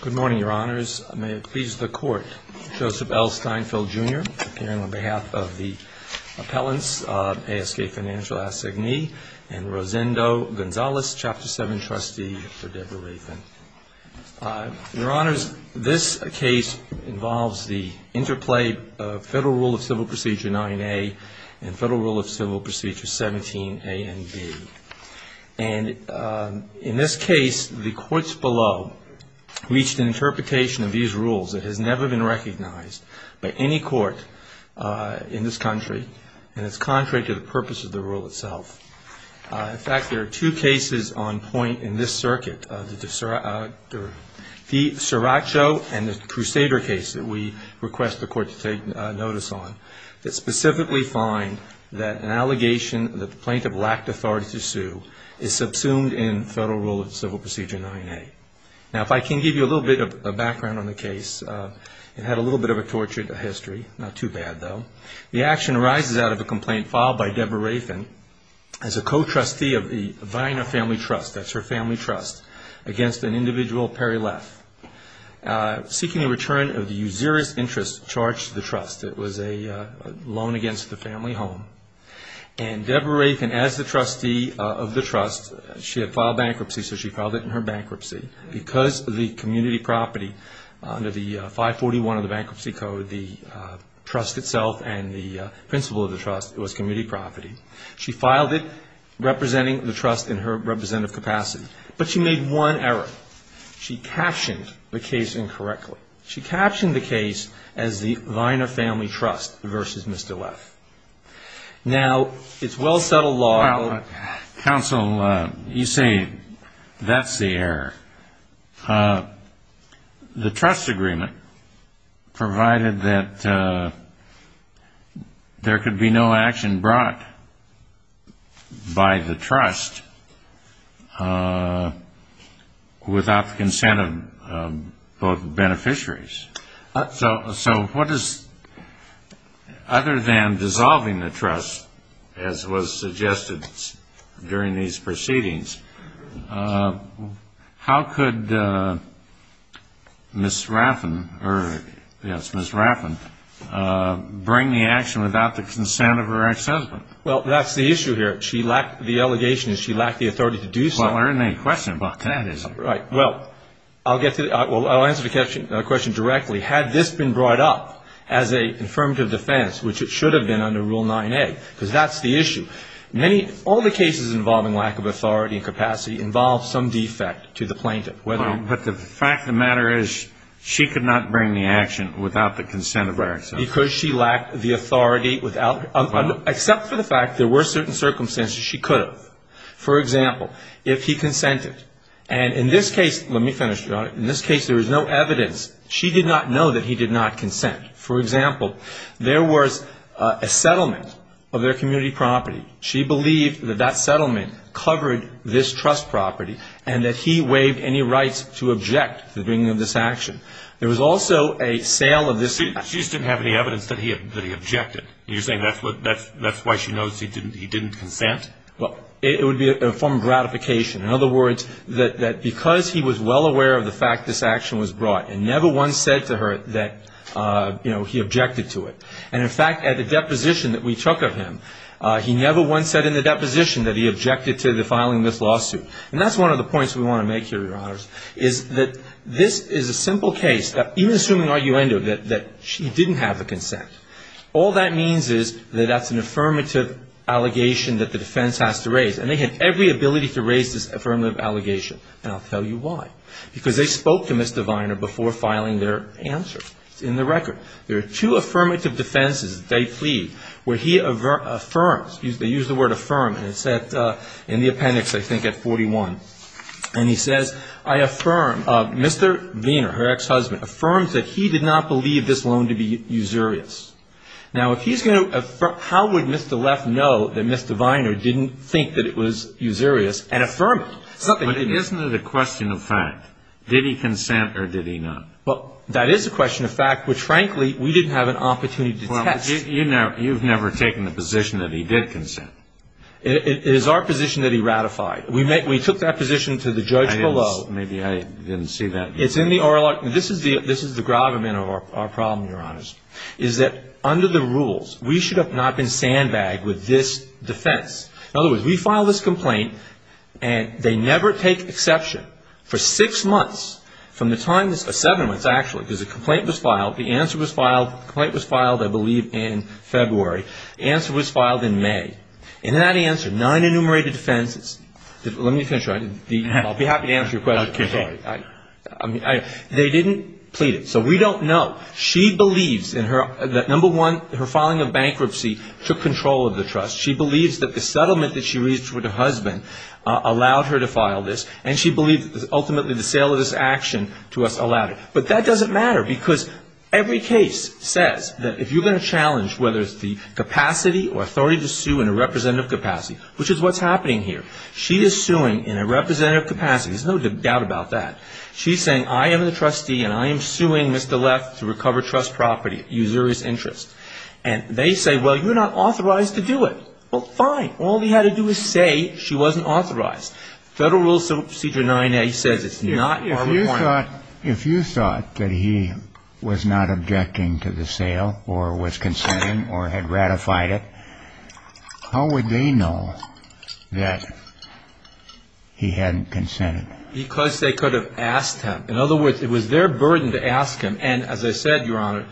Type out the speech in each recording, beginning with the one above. Good morning, Your Honors. May it please the Court, Joseph L. Steinfeld, Jr. appearing on behalf of the appellants of A.S.K. Financial Assignee and Rosendo Gonzales, Chapter 7 Trustee for Deborah Rayfin. Your Honors, this case involves the interplay of Federal Rule of Civil Procedure 9a and Federal Rule of Civil Procedure 17a and b. And in this case, the courts below reached an interpretation of these rules that has never been recognized by any court in this country, and it's contrary to the purpose of the rule itself. In fact, there are two cases on point in this circuit, the DiCiraccio and the Crusader case that we request the Court to take notice on, that specifically find that an allegation that the plaintiff lacked authority to sue is subsumed in Federal Rule of Civil Procedure 9a. Now, if I can give you a little bit of background on the case, it had a little bit of a tortured history, not too bad, though. The action arises out of a complaint filed by Deborah Rayfin as a co-trustee of the Viner Family Trust, that's her family trust, against an individual, Perry Leff, seeking a return of the usurious interest charged to the trust. It was a loan against the family home. And Deborah Rayfin, as the trustee of the trust, she had filed bankruptcy, so she filed it in her bankruptcy. Because of the community property, under the 541 of the Bankruptcy Code, the trust itself and the principle of the trust was community property. She filed it representing the trust in her representative capacity. But she made one error. She captioned the case incorrectly. She captioned the case as the Viner Family Trust versus Mr. Leff. Now, it's well-settled law. Well, counsel, you say that's the error. The trust agreement provided that there could be no action brought by the trust without the consent of both beneficiaries. So what is, other than dissolving the trust, as was suggested during these proceedings, how could Ms. Rayfin bring the action without the consent of her ex-husband? Well, that's the issue here. She lacked the allegation and she lacked the authority to do so. Well, there isn't any question about that, is there? Right. Well, I'll answer the question directly. Had this been brought up as an affirmative defense, which it should have been under Rule 9A, because that's the issue, all the cases involving lack of authority and capacity involve some defect to the plaintiff. But the fact of the matter is she could not bring the action without the consent of her ex-husband. Because she lacked the authority, except for the fact there were certain circumstances she could have. For example, if he consented, and in this case, let me finish. In this case, there was no evidence. She did not know that he did not consent. For example, there was a settlement of their community property. She believed that that settlement covered this trust property and that he waived any rights to object to the bringing of this action. There was also a sale of this. She just didn't have any evidence that he objected. You're saying that's why she knows he didn't consent? Well, it would be a form of gratification. In other words, that because he was well aware of the fact this action was brought and never once said to her that, you know, he objected to it. And, in fact, at the deposition that we took of him, he never once said in the deposition that he objected to the filing of this lawsuit. And that's one of the points we want to make here, Your Honors, is that this is a simple case, even assuming arguendo, that she didn't have the consent. All that means is that that's an affirmative allegation that the defense has to raise. And they had every ability to raise this affirmative allegation. And I'll tell you why. Because they spoke to Mr. Viner before filing their answer. It's in the record. There are two affirmative defenses, they plead, where he affirms, they use the word affirm, and it's in the appendix, I think, at 41. And he says, I affirm, Mr. Viner, her ex-husband, affirms that he did not believe this loan to be usurious. Now, if he's going to affirm, how would Mr. Leff know that Mr. Viner didn't think that it was usurious and affirm it? But isn't it a question of fact? Did he consent or did he not? Well, that is a question of fact, which, frankly, we didn't have an opportunity to test. Well, you've never taken the position that he did consent. It is our position that he ratified. We took that position to the judge below. Maybe I didn't see that. It's in the oral article. This is the gravamen of our problem, Your Honors, is that under the rules, we should have not been sandbagged with this defense. In other words, we filed this complaint, and they never take exception for six months from the time, seven months, actually, because the complaint was filed, the answer was filed. The complaint was filed, I believe, in February. The answer was filed in May. In that answer, nine enumerated defenses. Let me finish. I'll be happy to answer your question. Okay. They didn't plead it. So we don't know. She believes that, number one, her filing of bankruptcy took control of the trust. She believes that the settlement that she reached with her husband allowed her to file this, and she believes that ultimately the sale of this action to us allowed it. But that doesn't matter because every case says that if you're going to challenge whether it's the capacity or authority to sue in a representative capacity, which is what's happening here, she is suing in a representative capacity. There's no doubt about that. She's saying, I am the trustee, and I am suing Mr. Leff to recover trust property, usurious interest. And they say, well, you're not authorized to do it. Well, fine. All we had to do was say she wasn't authorized. Federal Rule Procedure 9A says it's not our requirement. If you thought that he was not objecting to the sale or was consenting or had ratified it, how would they know that he hadn't consented? Because they could have asked him. In other words, it was their burden to ask him. And as I said, Your Honor,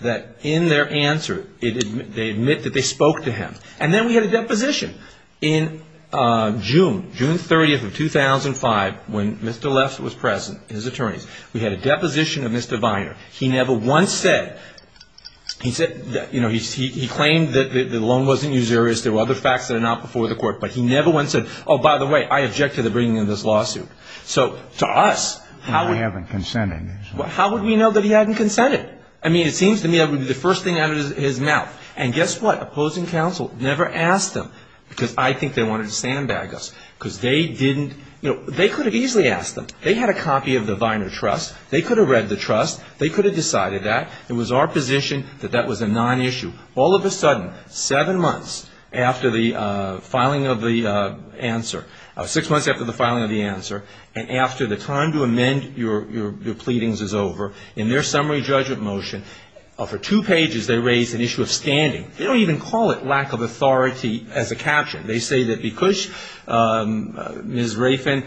that in their answer they admit that they spoke to him. And then we had a deposition in June, June 30th of 2005, when Mr. Leff was present, his attorneys, we had a deposition of Mr. Viner. He never once said, you know, he claimed that the loan wasn't usurious. There were other facts that are not before the court. But he never once said, oh, by the way, I object to the bringing of this lawsuit. So to us, how would we know that he hadn't consented? I mean, it seems to me that would be the first thing out of his mouth. And guess what? Opposing counsel never asked him because I think they wanted to sandbag us. Because they didn't, you know, they could have easily asked him. They had a copy of the Viner Trust. They could have read the trust. They could have decided that. It was our position that that was a non-issue. All of a sudden, seven months after the filing of the answer, six months after the filing of the answer, and after the time to amend your pleadings is over, in their summary judgment motion, for two pages they raise an issue of standing. They don't even call it lack of authority as a caption. They say that because Ms. Rafen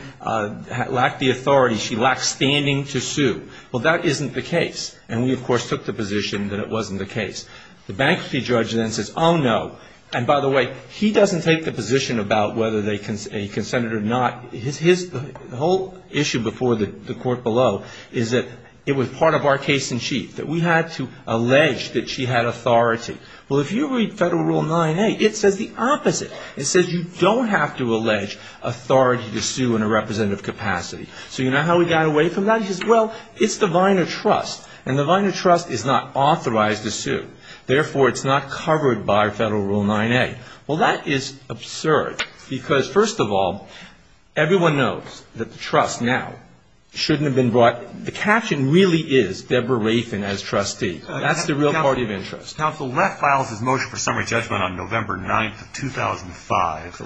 lacked the authority, she lacked standing to sue. Well, that isn't the case. And we, of course, took the position that it wasn't the case. The bankruptcy judge then says, oh, no. And, by the way, he doesn't take the position about whether they consented or not. His whole issue before the court below is that it was part of our case in chief, that we had to allege that she had authority. Well, if you read Federal Rule 9a, it says the opposite. It says you don't have to allege authority to sue in a representative capacity. So you know how he got away from that? He says, well, it's the Viner Trust, and the Viner Trust is not authorized to sue. Therefore, it's not covered by Federal Rule 9a. Well, that is absurd because, first of all, everyone knows that the trust now shouldn't have been brought. The caption really is Deborah Rafen as trustee. That's the real party of interest. Counsel, Leff files his motion for summary judgment on November 9th of 2005.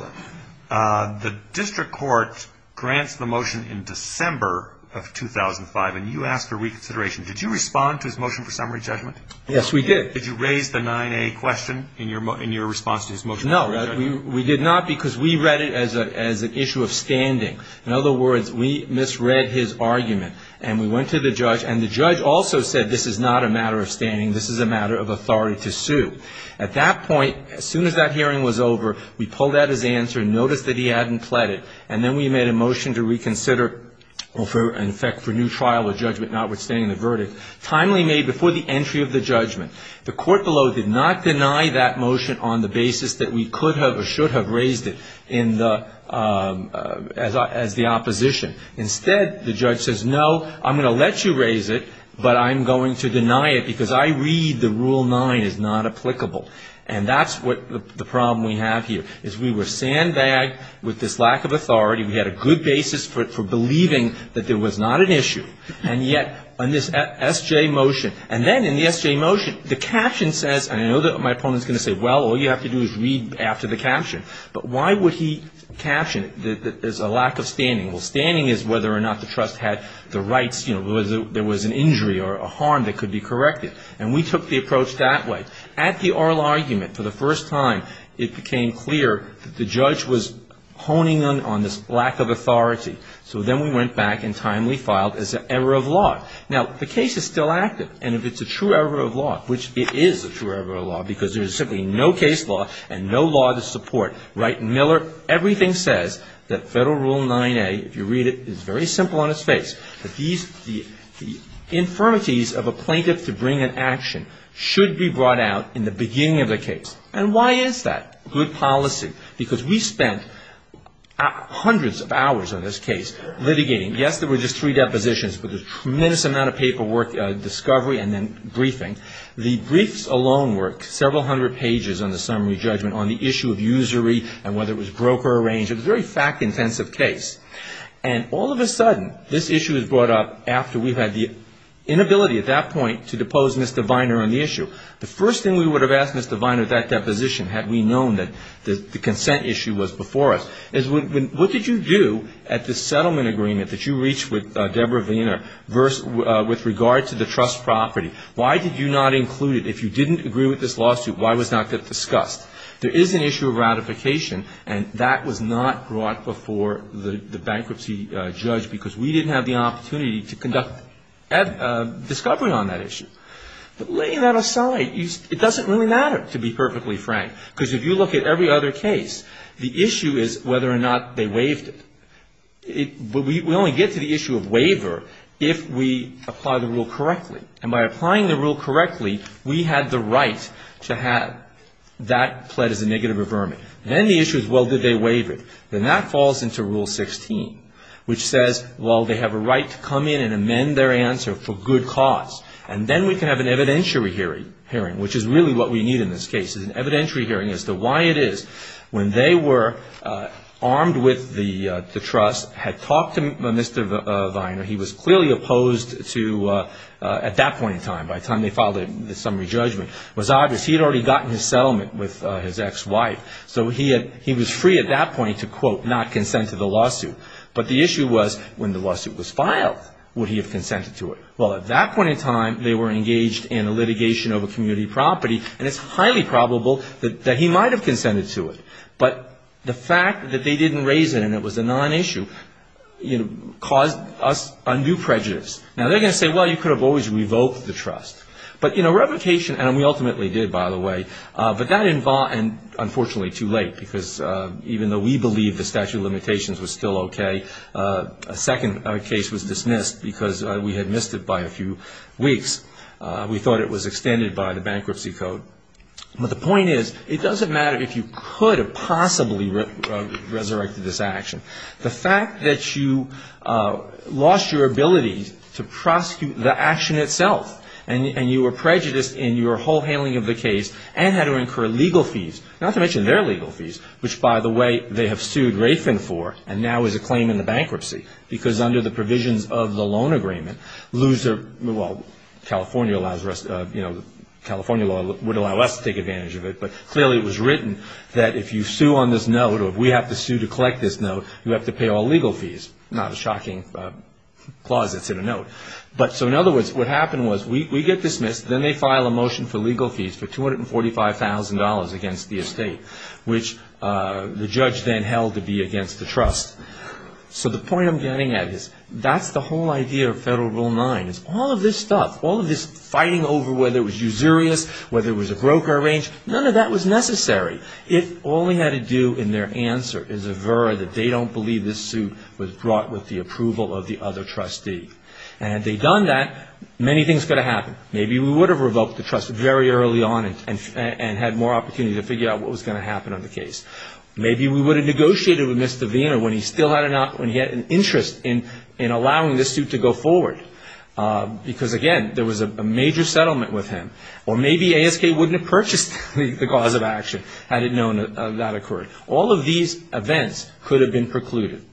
The district court grants the motion in December of 2005, and you asked for reconsideration. Did you respond to his motion for summary judgment? Yes, we did. Did you raise the 9a question in your response to his motion for summary judgment? No, we did not because we read it as an issue of standing. In other words, we misread his argument, and we went to the judge. And the judge also said this is not a matter of standing. This is a matter of authority to sue. At that point, as soon as that hearing was over, we pulled out his answer and noticed that he hadn't pled it. And then we made a motion to reconsider, in effect, for new trial or judgment notwithstanding the verdict, timely made before the entry of the judgment. The court below did not deny that motion on the basis that we could have or should have raised it as the opposition. Instead, the judge says, no, I'm going to let you raise it, but I'm going to deny it because I read the Rule 9 is not applicable. And that's what the problem we have here, is we were sandbagged with this lack of authority. We had a good basis for believing that there was not an issue. And yet, on this SJ motion, and then in the SJ motion, the caption says, and I know that my opponent is going to say, well, all you have to do is read after the caption. But why would he caption that there's a lack of standing? Well, standing is whether or not the trust had the rights, you know, whether there was an injury or a harm that could be corrected. And we took the approach that way. At the oral argument, for the first time, it became clear that the judge was honing on this lack of authority. So then we went back and timely filed as an error of law. Now, the case is still active. And if it's a true error of law, which it is a true error of law because there's simply no case law and no law to support. Wright and Miller, everything says that Federal Rule 9A, if you read it, is very simple on its face. The infirmities of a plaintiff to bring an action should be brought out in the beginning of the case. And why is that? Good policy. Because we spent hundreds of hours on this case litigating. Yes, there were just three depositions, but a tremendous amount of paperwork, discovery, and then briefing. The briefs alone were several hundred pages on the summary judgment on the issue of usury and whether it was broker-arranged. It was a very fact-intensive case. And all of a sudden, this issue is brought up after we had the inability at that point to depose Mr. Viner on the issue. The first thing we would have asked Mr. Viner at that deposition had we known that the consent issue was before us, is what did you do at the settlement agreement that you reached with Deborah Viner with regard to the trust property? Why did you not include it? If you didn't agree with this lawsuit, why was that not discussed? There is an issue of ratification, and that was not brought before the bankruptcy judge, because we didn't have the opportunity to conduct discovery on that issue. But laying that aside, it doesn't really matter, to be perfectly frank. Because if you look at every other case, the issue is whether or not they waived it. But we only get to the issue of waiver if we apply the rule correctly. And by applying the rule correctly, we had the right to have that pled as a negative averment. And then the issue is, well, did they waive it? Then that falls into Rule 16, which says, well, they have a right to come in and amend their answer for good cause. And then we can have an evidentiary hearing, which is really what we need in this case, is an evidentiary hearing as to why it is when they were armed with the trust, had talked to Mr. Viner. He was clearly opposed to, at that point in time, by the time they filed the summary judgment, it was obvious he had already gotten his settlement with his ex-wife. So he was free at that point to, quote, not consent to the lawsuit. But the issue was, when the lawsuit was filed, would he have consented to it? Well, at that point in time, they were engaged in a litigation over community property, and it's highly probable that he might have consented to it. But the fact that they didn't raise it and it was a non-issue, you know, caused us undue prejudice. Now, they're going to say, well, you could have always revoked the trust. But, you know, revocation, and we ultimately did, by the way, but that involved, and unfortunately too late because even though we believed the statute of limitations was still okay, a second case was dismissed because we had missed it by a few weeks. We thought it was extended by the bankruptcy code. But the point is, it doesn't matter if you could have possibly resurrected this action. The fact that you lost your ability to prosecute the action itself and you were prejudiced in your whole handling of the case and had to incur legal fees, not to mention their legal fees, which, by the way, they have sued Rayford for and now is a claim in the bankruptcy because under the provisions of the loan agreement, well, California law would allow us to take advantage of it, but clearly it was written that if you sue on this note or if we have to sue to collect this note, you have to pay all legal fees, not a shocking clause that's in a note. So in other words, what happened was we get dismissed, then they file a motion for legal fees for $245,000 against the estate, which the judge then held to be against the trust. So the point I'm getting at is that's the whole idea of Federal Rule 9, is all of this stuff, all of this fighting over whether it was usurious, whether it was a broker-arranged, none of that was necessary. It only had to do in their answer is a vera that they don't believe this suit was brought with the approval of the other trustee. And had they done that, many things could have happened. Maybe we would have revoked the trust very early on and had more opportunity to figure out what was going to happen on the case. Maybe we would have negotiated with Mr. Vayner when he still had an interest in allowing this suit to go forward because, again, there was a major settlement with him. Or maybe ASK wouldn't have purchased the cause of action had it known that that occurred. All of these events could have been precluded.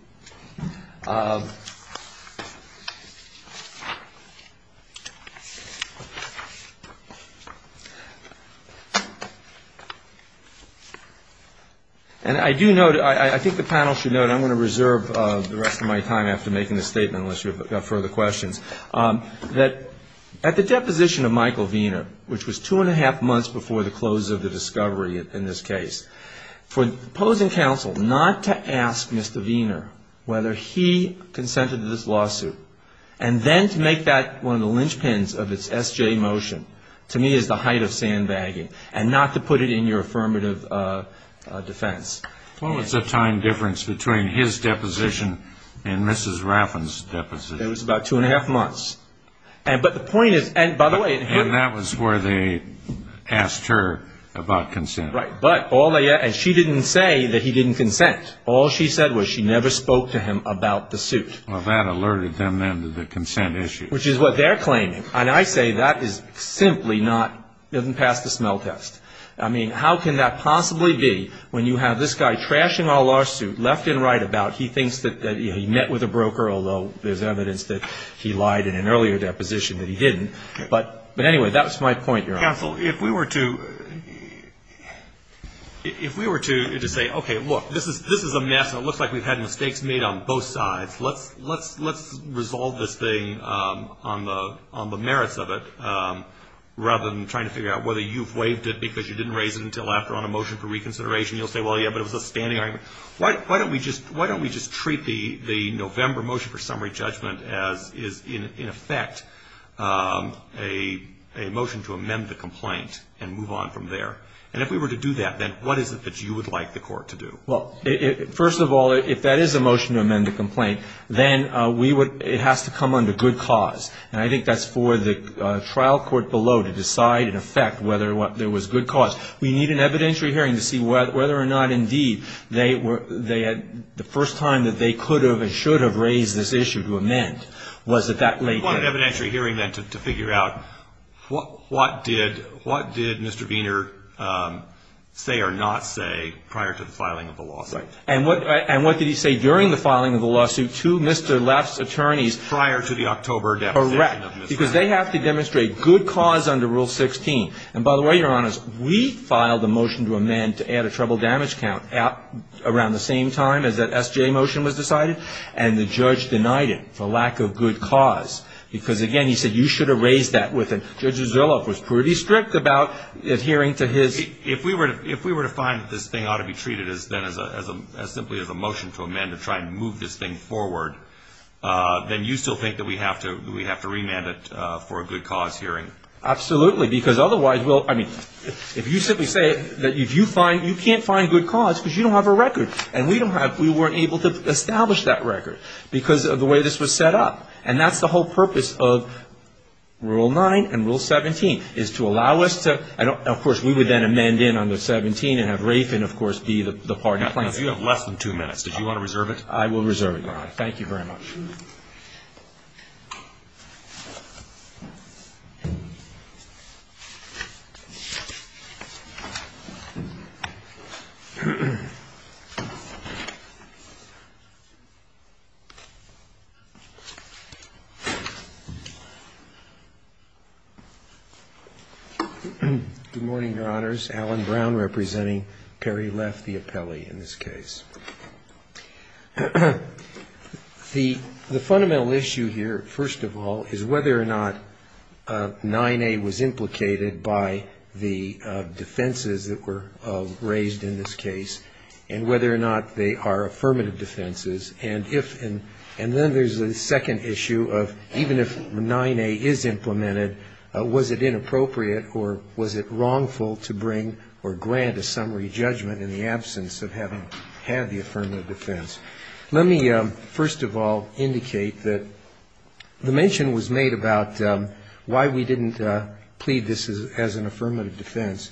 And I do note, I think the panel should note, I'm going to reserve the rest of my time after making this statement unless you've got further questions, that at the deposition of Michael Vayner, which was two and a half months before the close of the discovery in this case, for the opposing counsel not to ask Mr. Vayner whether he consented to this lawsuit and then to make that one of the linchpins of its SJ motion, to me is the height of sandbagging, and not to put it in your affirmative defense. What was the time difference between his deposition and Mrs. Raffin's deposition? It was about two and a half months. But the point is, and by the way... And that was where they asked her about consent. Right. And she didn't say that he didn't consent. All she said was she never spoke to him about the suit. Which is what they're claiming. And I say that is simply not, doesn't pass the smell test. I mean, how can that possibly be when you have this guy trashing our lawsuit left and right about, he thinks that he met with a broker, although there's evidence that he lied in an earlier deposition that he didn't. But anyway, that was my point, Your Honor. Counsel, if we were to say, okay, look, this is a mess and it looks like we've had mistakes made on both sides, let's resolve this thing on the merits of it rather than trying to figure out whether you've waived it because you didn't raise it until after on a motion for reconsideration. You'll say, well, yeah, but it was a standing argument. Why don't we just treat the November motion for summary judgment as is, in effect, a motion to amend the complaint and move on from there? And if we were to do that, then what is it that you would like the court to do? Well, first of all, if that is a motion to amend the complaint, then it has to come under good cause. And I think that's for the trial court below to decide in effect whether there was good cause. We need an evidentiary hearing to see whether or not, indeed, the first time that they could have and should have raised this issue to amend was at that late date. So you want an evidentiary hearing then to figure out what did Mr. Viener say or not say prior to the filing of the lawsuit? Right. And what did he say during the filing of the lawsuit to Mr. Lapp's attorneys prior to the October deposition? Correct. Because they have to demonstrate good cause under Rule 16. And by the way, Your Honors, we filed a motion to amend to add a trouble damage count around the same time as that S.J. motion was decided, and the judge denied it for lack of good cause. Because, again, he said you should have raised that with him. Judge Zorloff was pretty strict about adhering to his. If we were to find that this thing ought to be treated then simply as a motion to amend to try and move this thing forward, then you still think that we have to remand it for a good cause hearing? Absolutely. Because otherwise we'll – I mean, if you simply say that you find – you can't find good cause because you don't have a record. And we don't have – we weren't able to establish that record because of the way this was set up. And that's the whole purpose of Rule 9 and Rule 17 is to allow us to – and, of course, we would then amend in under 17 and have Rafe, of course, be the party plaintiff. You have less than two minutes. Did you want to reserve it? I will reserve it, Your Honor. Thank you very much. Good morning, Your Honors. Alan Brown representing Perry Leff, the appellee in this case. The fundamental issue here, first of all, is whether or not 9A was implicated by the defenses that were raised in this case and whether or not they are affirmative defenses. And if – and then there's a second issue of even if 9A is implemented, was it inappropriate or was it wrongful to bring or grant a summary judgment in the absence of having had the affirmative defense? Let me, first of all, indicate that the mention was made about why we didn't plead this as an affirmative defense.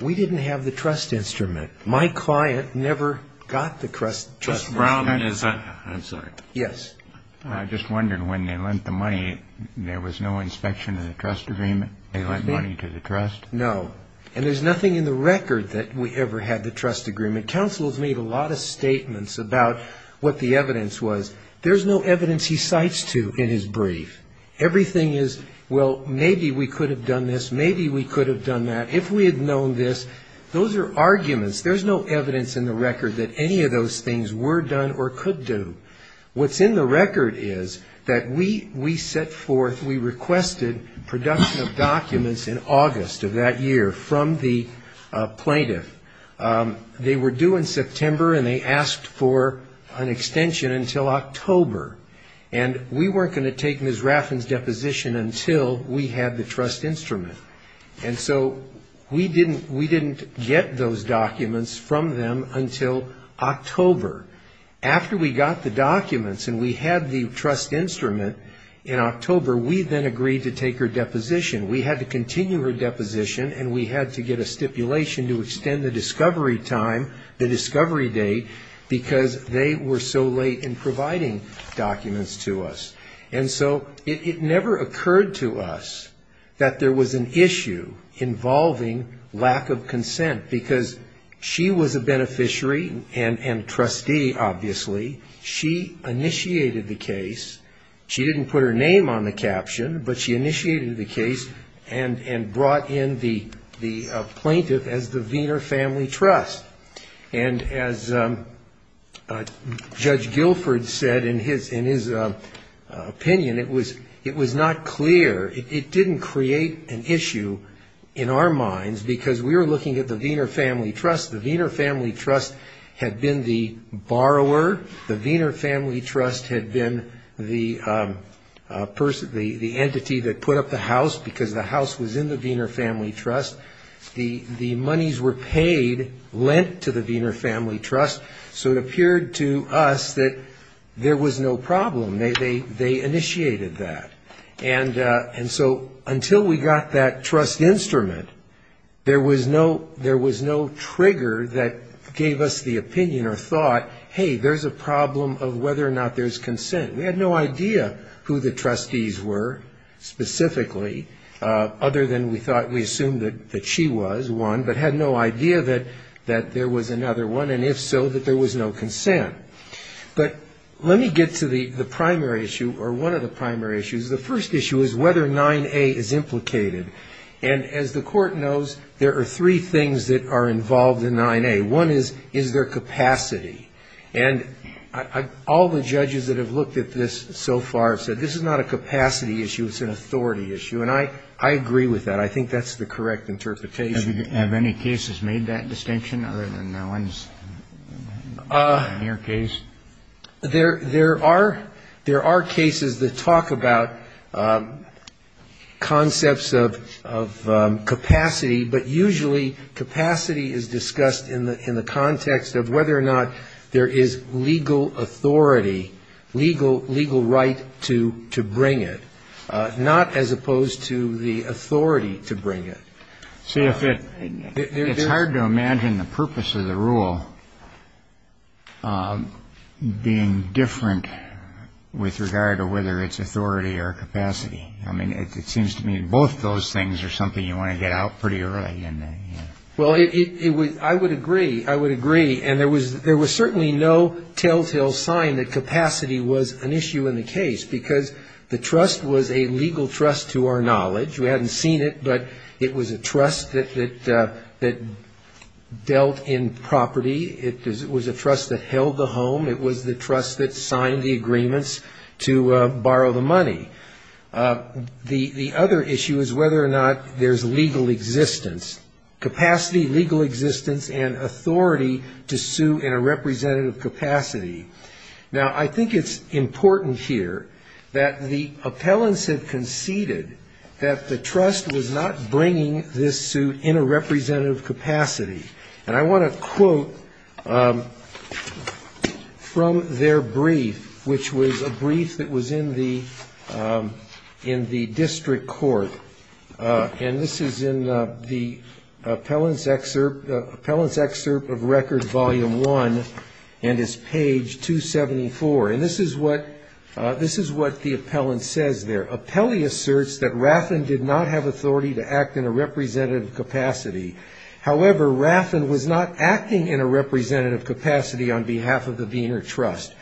We didn't have the trust instrument. My client never got the trust instrument. Mr. Brown, is that – I'm sorry. Yes. I just wondered when they lent the money, there was no inspection of the trust agreement? They lent money to the trust? No. And there's nothing in the record that we ever had the trust agreement. Counsel has made a lot of statements about what the evidence was. There's no evidence he cites to in his brief. Everything is, well, maybe we could have done this, maybe we could have done that. If we had known this, those are arguments. There's no evidence in the record that any of those things were done or could do. What's in the record is that we set forth, we requested production of documents in August of that year from the plaintiff. They were due in September, and they asked for an extension until October. And we weren't going to take Ms. Raffin's deposition until we had the trust instrument. And so we didn't get those documents from them until October. After we got the documents and we had the trust instrument in October, we then agreed to take her deposition. We had to continue her deposition, and we had to get a stipulation to extend the discovery time, the discovery date, because they were so late in providing documents to us. And so it never occurred to us that there was an issue involving lack of consent, because she was a beneficiary and trustee, obviously. She initiated the case. She didn't put her name on the caption, but she initiated the case and brought in the plaintiff as the Wiener Family Trust. And as Judge Guilford said in his opinion, it was not clear. It didn't create an issue in our minds, because we were looking at the Wiener Family Trust. The Wiener Family Trust had been the borrower. The Wiener Family Trust had been the entity that put up the house, because the house was in the Wiener Family Trust. The monies were paid, lent to the Wiener Family Trust, so it appeared to us that there was no problem. They initiated that. And so until we got that trust instrument, there was no trigger that gave us the opinion or thought, hey, there's a problem of whether or not there's consent. We had no idea who the trustees were specifically, other than we thought we assumed that she was one, but had no idea that there was another one, and if so, that there was no consent. But let me get to the primary issue, or one of the primary issues. The first issue is whether 9A is implicated. And as the court knows, there are three things that are involved in 9A. One is, is there capacity? And all the judges that have looked at this so far have said, this is not a capacity issue, it's an authority issue. And I agree with that. I think that's the correct interpretation. Have any cases made that distinction, other than Owen's near case? There are cases that talk about concepts of capacity, but usually capacity is discussed in the context of whether or not there is legal authority, legal right to bring it, not as opposed to the authority to bring it. It's hard to imagine the purpose of the rule being different with regard to whether it's authority or capacity. I mean, it seems to me both those things are something you want to get out pretty early. Well, I would agree. I would agree. And there was certainly no telltale sign that capacity was an issue in the case, because the trust was a legal trust to our knowledge. We hadn't seen it, but it was a trust that dealt in property. It was a trust that held the home. It was the trust that signed the agreements to borrow the money. The other issue is whether or not there's legal existence, capacity, legal existence, and authority to sue in a representative capacity. Now, I think it's important here that the appellants have conceded that the trust was not bringing this suit in a representative capacity. And I want to quote from their brief, which was a brief that was in the district court. And this is in the appellant's excerpt of Record Volume 1, and it's page 274. And this is what the appellant says there. The appellant asserts that Raffin did not have authority to act in a representative capacity. However, Raffin was not acting in a representative capacity on behalf of the Wiener Trust.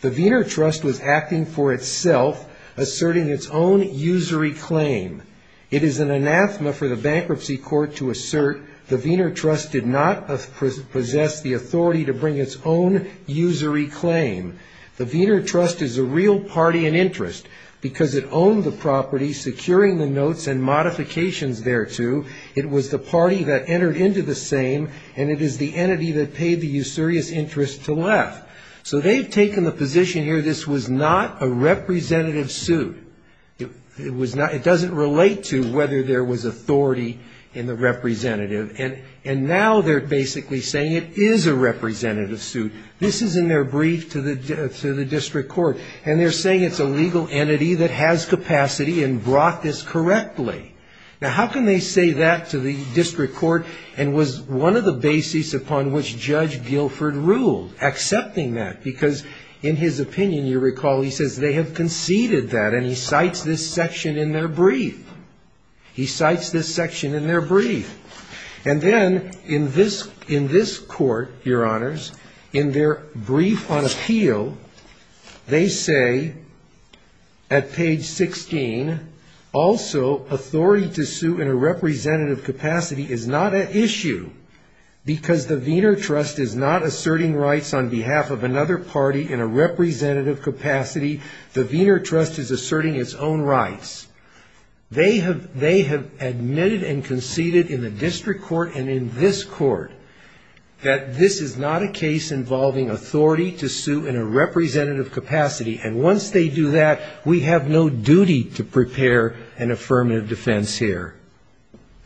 The Wiener Trust was acting for itself, asserting its own usury claim. It is an anathema for the bankruptcy court to assert the Wiener Trust did not possess the authority to bring its own usury claim. The Wiener Trust is a real party and interest because it owned the property, securing the notes and modifications thereto. It was the party that entered into the same, and it is the entity that paid the usurious interest to Leff. So they've taken the position here this was not a representative suit. It doesn't relate to whether there was authority in the representative. And now they're basically saying it is a representative suit. This is in their brief to the district court. And they're saying it's a legal entity that has capacity and brought this correctly. Now, how can they say that to the district court and was one of the bases upon which Judge Guilford ruled, accepting that? Because in his opinion, you recall, he says they have conceded that, and he cites this section in their brief. He cites this section in their brief. And then in this court, Your Honors, in their brief on appeal, they say at page 16, also authority to sue in a representative capacity is not an issue because the Wiener Trust is not asserting rights on behalf of another party in a representative capacity. The Wiener Trust is asserting its own rights. They have admitted and conceded in the district court and in this court that this is not a case involving authority to sue in a representative capacity. And once they do that, we have no duty to prepare an affirmative defense here.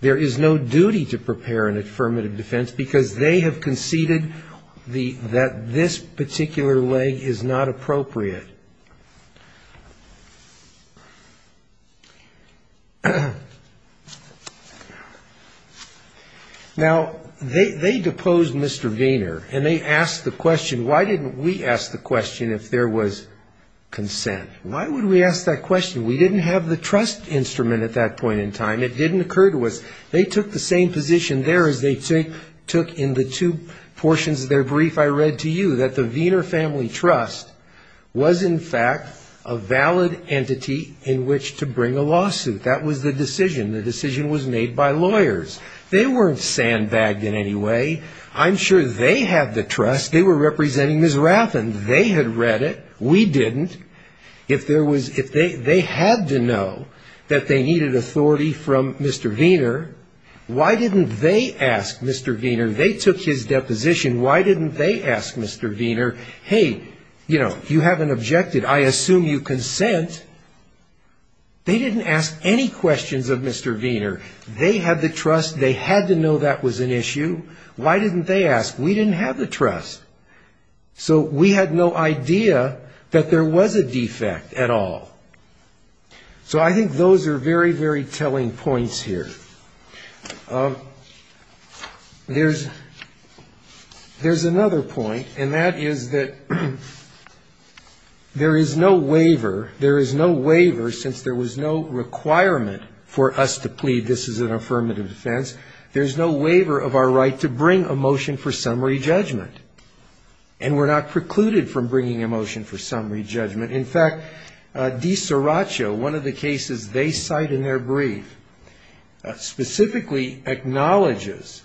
There is no duty to prepare an affirmative defense because they have conceded that this particular leg is not appropriate. Now, they deposed Mr. Wiener, and they asked the question, why didn't we ask the question if there was consent? Why would we ask that question? We didn't have the trust instrument at that point in time. It didn't occur to us. They took the same position there as they took in the two portions of their brief I read to you, that the Wiener Family Trust was in fact a valid entity in which to bring a lawsuit. That was the decision. The decision was made by lawyers. They weren't sandbagged in any way. I'm sure they had the trust. They were representing Ms. Rathen. They had read it. We didn't. If they had to know that they needed authority from Mr. Wiener, why didn't they ask Mr. Wiener? They took his deposition. Why didn't they ask Mr. Wiener, hey, you haven't objected. I assume you consent. They didn't ask any questions of Mr. Wiener. They had the trust. They had to know that was an issue. Why didn't they ask? We didn't have the trust. So we had no idea that there was a defect at all. So I think those are very, very telling points here. There's another point, and that is that there is no waiver, there is no waiver, since there was no requirement for us to plead, this is an affirmative defense, there's no waiver of our right to bring a motion for summary judgment. And we're not precluded from bringing a motion for summary judgment. In fact, DiCiraccio, one of the cases they cite in their brief, specifically acknowledges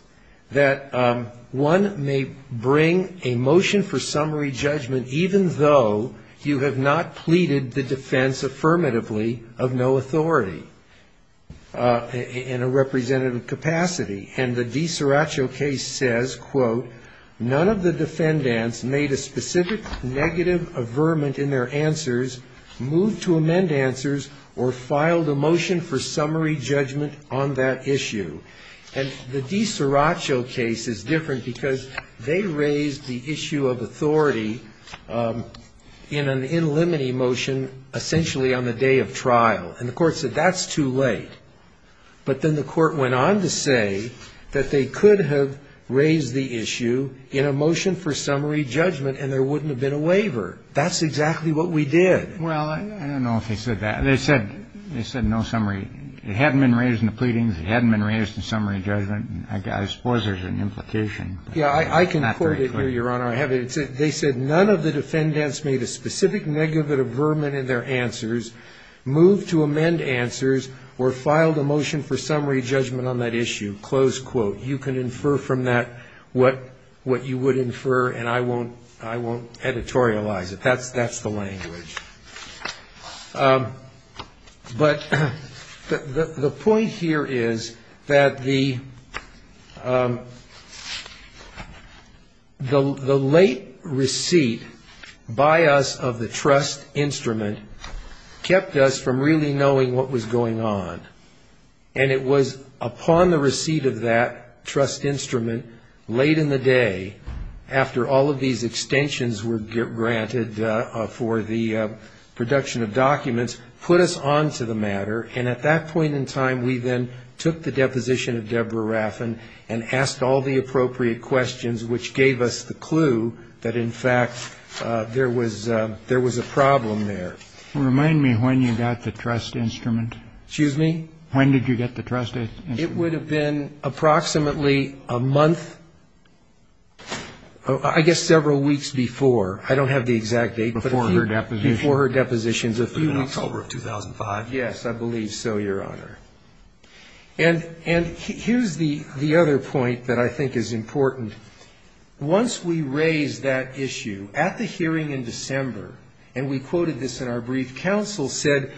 that one may bring a motion for summary judgment even though you have not pleaded the defense affirmatively of no authority in a representative capacity. And the DiCiraccio case says, quote, none of the defendants made a specific negative averment in their answers, moved to amend answers, or filed a motion for summary judgment on that issue. And the DiCiraccio case is different, because they raised the issue of authority in an in limine motion, essentially on the day of trial. And the court said that's too late. But then the court went on to say that they could have raised the issue in a motion for summary judgment and there wouldn't have been a waiver. That's exactly what we did. Well, I don't know if they said that. They said no summary. It hadn't been raised in the pleadings. It hadn't been raised in summary judgment. I suppose there's an implication. Yeah, I can quote it here, Your Honor. They said none of the defendants made a specific negative averment in their answers, moved to amend answers, or filed a motion for summary judgment on that issue, close quote. You can infer from that what you would infer, and I won't editorialize it. That's the language. But the point here is that the late receipt by us of the trust instrument kept us from really knowing what was going on. And it was upon the receipt of that trust instrument, late in the day, after all of these extensions were granted for the production of documents, put us on to the matter, and at that point in time, we then took the deposition of Deborah Raffin and asked all the appropriate questions, which gave us the clue that, in fact, there was a problem there. Remind me when you got the trust instrument. Excuse me? When did you get the trust instrument? It would have been approximately a month, I guess several weeks before. I don't have the exact date. Before her deposition. In October of 2005. Yes, I believe so, Your Honor. And here's the other point that I think is important. Once we raised that issue, at the hearing in December, and we quoted this in our brief, counsel said,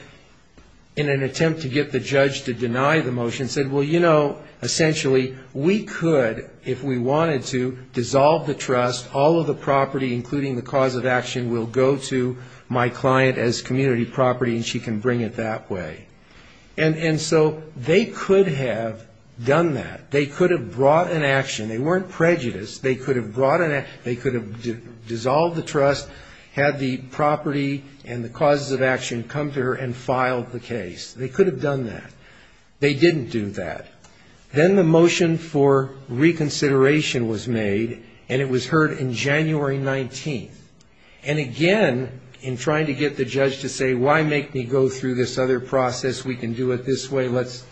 in an attempt to get the judge to deny the motion, I'm going to go to my client as community property and she can bring it that way. And so they could have done that. They could have brought an action. They weren't prejudiced. They could have dissolved the trust, had the property and the causes of action come to her and filed the case. They could have done that. They didn't do that. Then the motion for reconsideration was made, and it was heard in January 19th. And again, in trying to get the judge to say, why make me go through this other process, we can do it this way, let's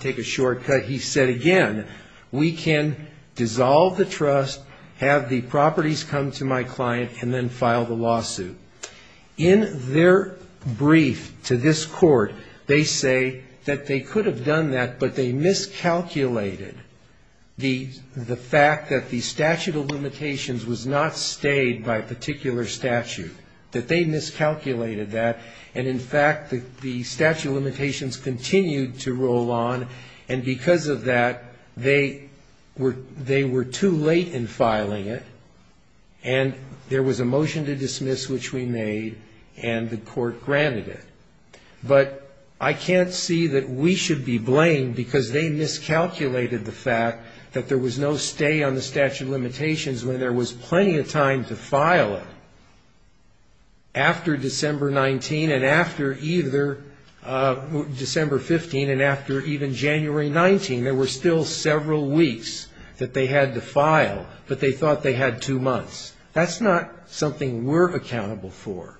take a shortcut, he said, again, we can dissolve the trust, have the properties come to my client, and then file the lawsuit. In their brief to this court, they say that they could have done that, but they miscalculated the fact that the statute of limitations was not stayed by a particular statute, that they miscalculated that, and in fact, the statute of limitations continued to roll on, and because of that, they were too late in filing it. And there was a motion to dismiss, which we made, and the court granted it. But I can't see that we should be blamed because they miscalculated the fact that there was no stay on the statute of limitations when there was plenty of time to file it. After December 19th, and after either December 15th, and after even January 19th, there were still several weeks that they had to file, but they thought they had two months. That's not something we're accountable for,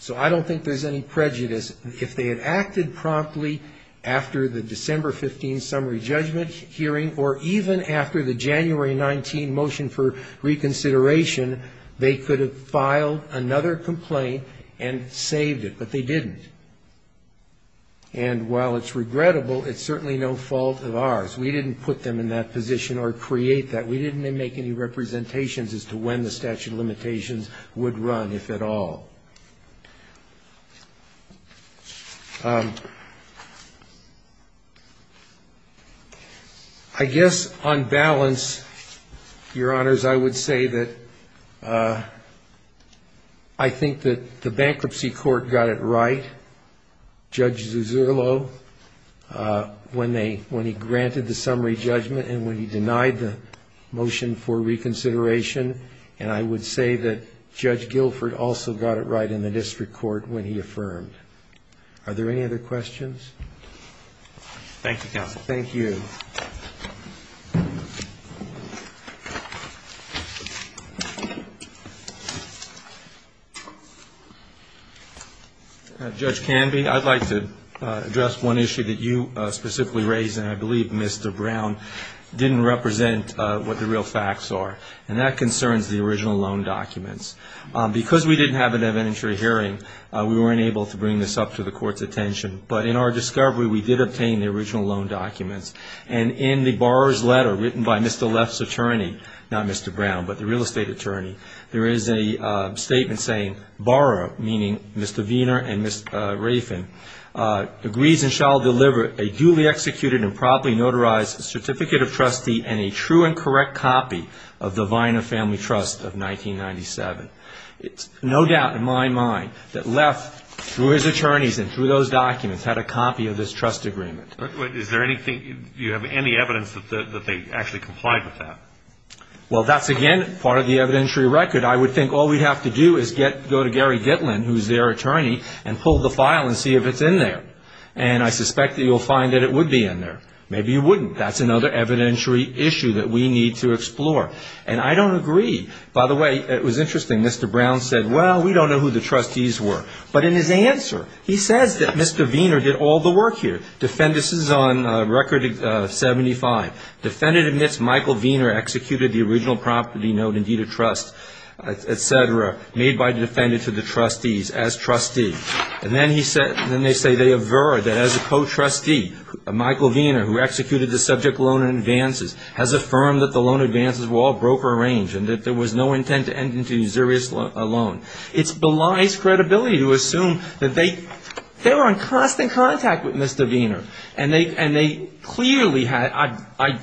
so I don't think there's any prejudice. If they had acted promptly after the December 15th summary judgment hearing, or even after the January 19th motion for the statute of limitations, they could have filed another complaint and saved it, but they didn't. And while it's regrettable, it's certainly no fault of ours. We didn't put them in that position or create that. We didn't make any representations as to when the statute of limitations would run, if at all. I guess on balance, Your Honors, I would say that I think that the bankruptcy court got it right, Judge Zizzurlo, when he granted the summary judgment and when he denied the motion for reconsideration, and I would say that Judge Guilford also got it right in the court when he affirmed. Are there any other questions? Thank you, Counsel. Thank you. Judge Canby, I'd like to address one issue that you specifically raised, and I believe Mr. Brown didn't represent what the real facts are. And that concerns the original loan documents. Because we didn't have an inventory hearing, we weren't able to bring this up to the court's attention. But in our discovery, we did obtain the original loan documents. And in the borrower's letter written by Mr. Leff's attorney, not Mr. Brown, but the real estate attorney, there is a statement saying, borrower, meaning Mr. Wiener and Ms. Rafen, agrees and shall deliver a duly executed and promptly notarized certificate of trustee and a true and correct copy of the Weiner Family Trust of 1997. It's no doubt in my mind that Leff, through his attorneys and through those documents, had a copy of this trust agreement. Do you have any evidence that they actually complied with that? Well, that's, again, part of the evidentiary record. I would think all we'd have to do is go to Gary Gitlin, who's their attorney, and pull the file and see if it's in there. And I suspect that you'll find that it would be in there. Maybe you wouldn't. That's another evidentiary issue that we need to explore. And I don't agree. By the way, it was interesting, Mr. Brown said, well, we don't know who the trustees were. But in his answer, he says that Mr. Wiener did all the work here. Defendant, this is on Record 75. Defendant admits Michael Wiener executed the original property note in deed of trust, et cetera, made by the defendant to the trustees as trustee. And then they say they aver that as a co-trustee, Michael Wiener, who executed the subject loan advances, has affirmed that the loan advances were all broker-arranged and that there was no intent to enter into usurious loan. It belies credibility to assume that they were in constant contact with Mr. Wiener. And they clearly had, I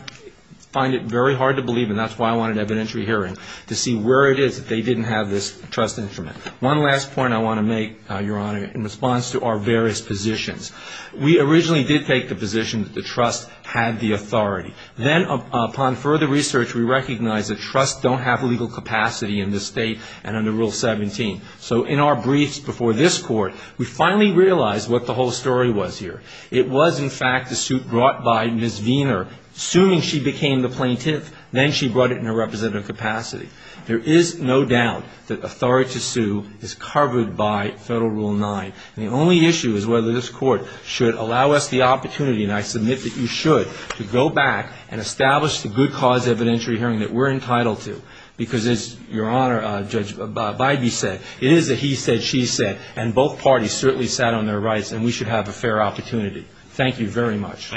find it very hard to believe, and that's why I wanted evidentiary hearing, to see where it is that they didn't have this trust instrument. One last point I want to make, Your Honor, in response to our various positions. We originally did take the position that the trust had the authority. Then upon further research, we recognized that trusts don't have legal capacity in this State and under Rule 17. So in our briefs before this Court, we finally realized what the whole story was here. It was, in fact, the suit brought by Ms. Wiener, assuming she became the plaintiff, then she brought it in a representative capacity. There is no doubt that authority to sue is covered by Federal Rule 9. And the only issue is whether this Court should allow us the opportunity, and I submit that you should, to go back and establish the good cause evidentiary hearing that we're entitled to. Because as Your Honor, Judge Bybee said, it is a he said, she said, and both parties certainly sat on their rights, and we should have a fair opportunity. Thank you very much.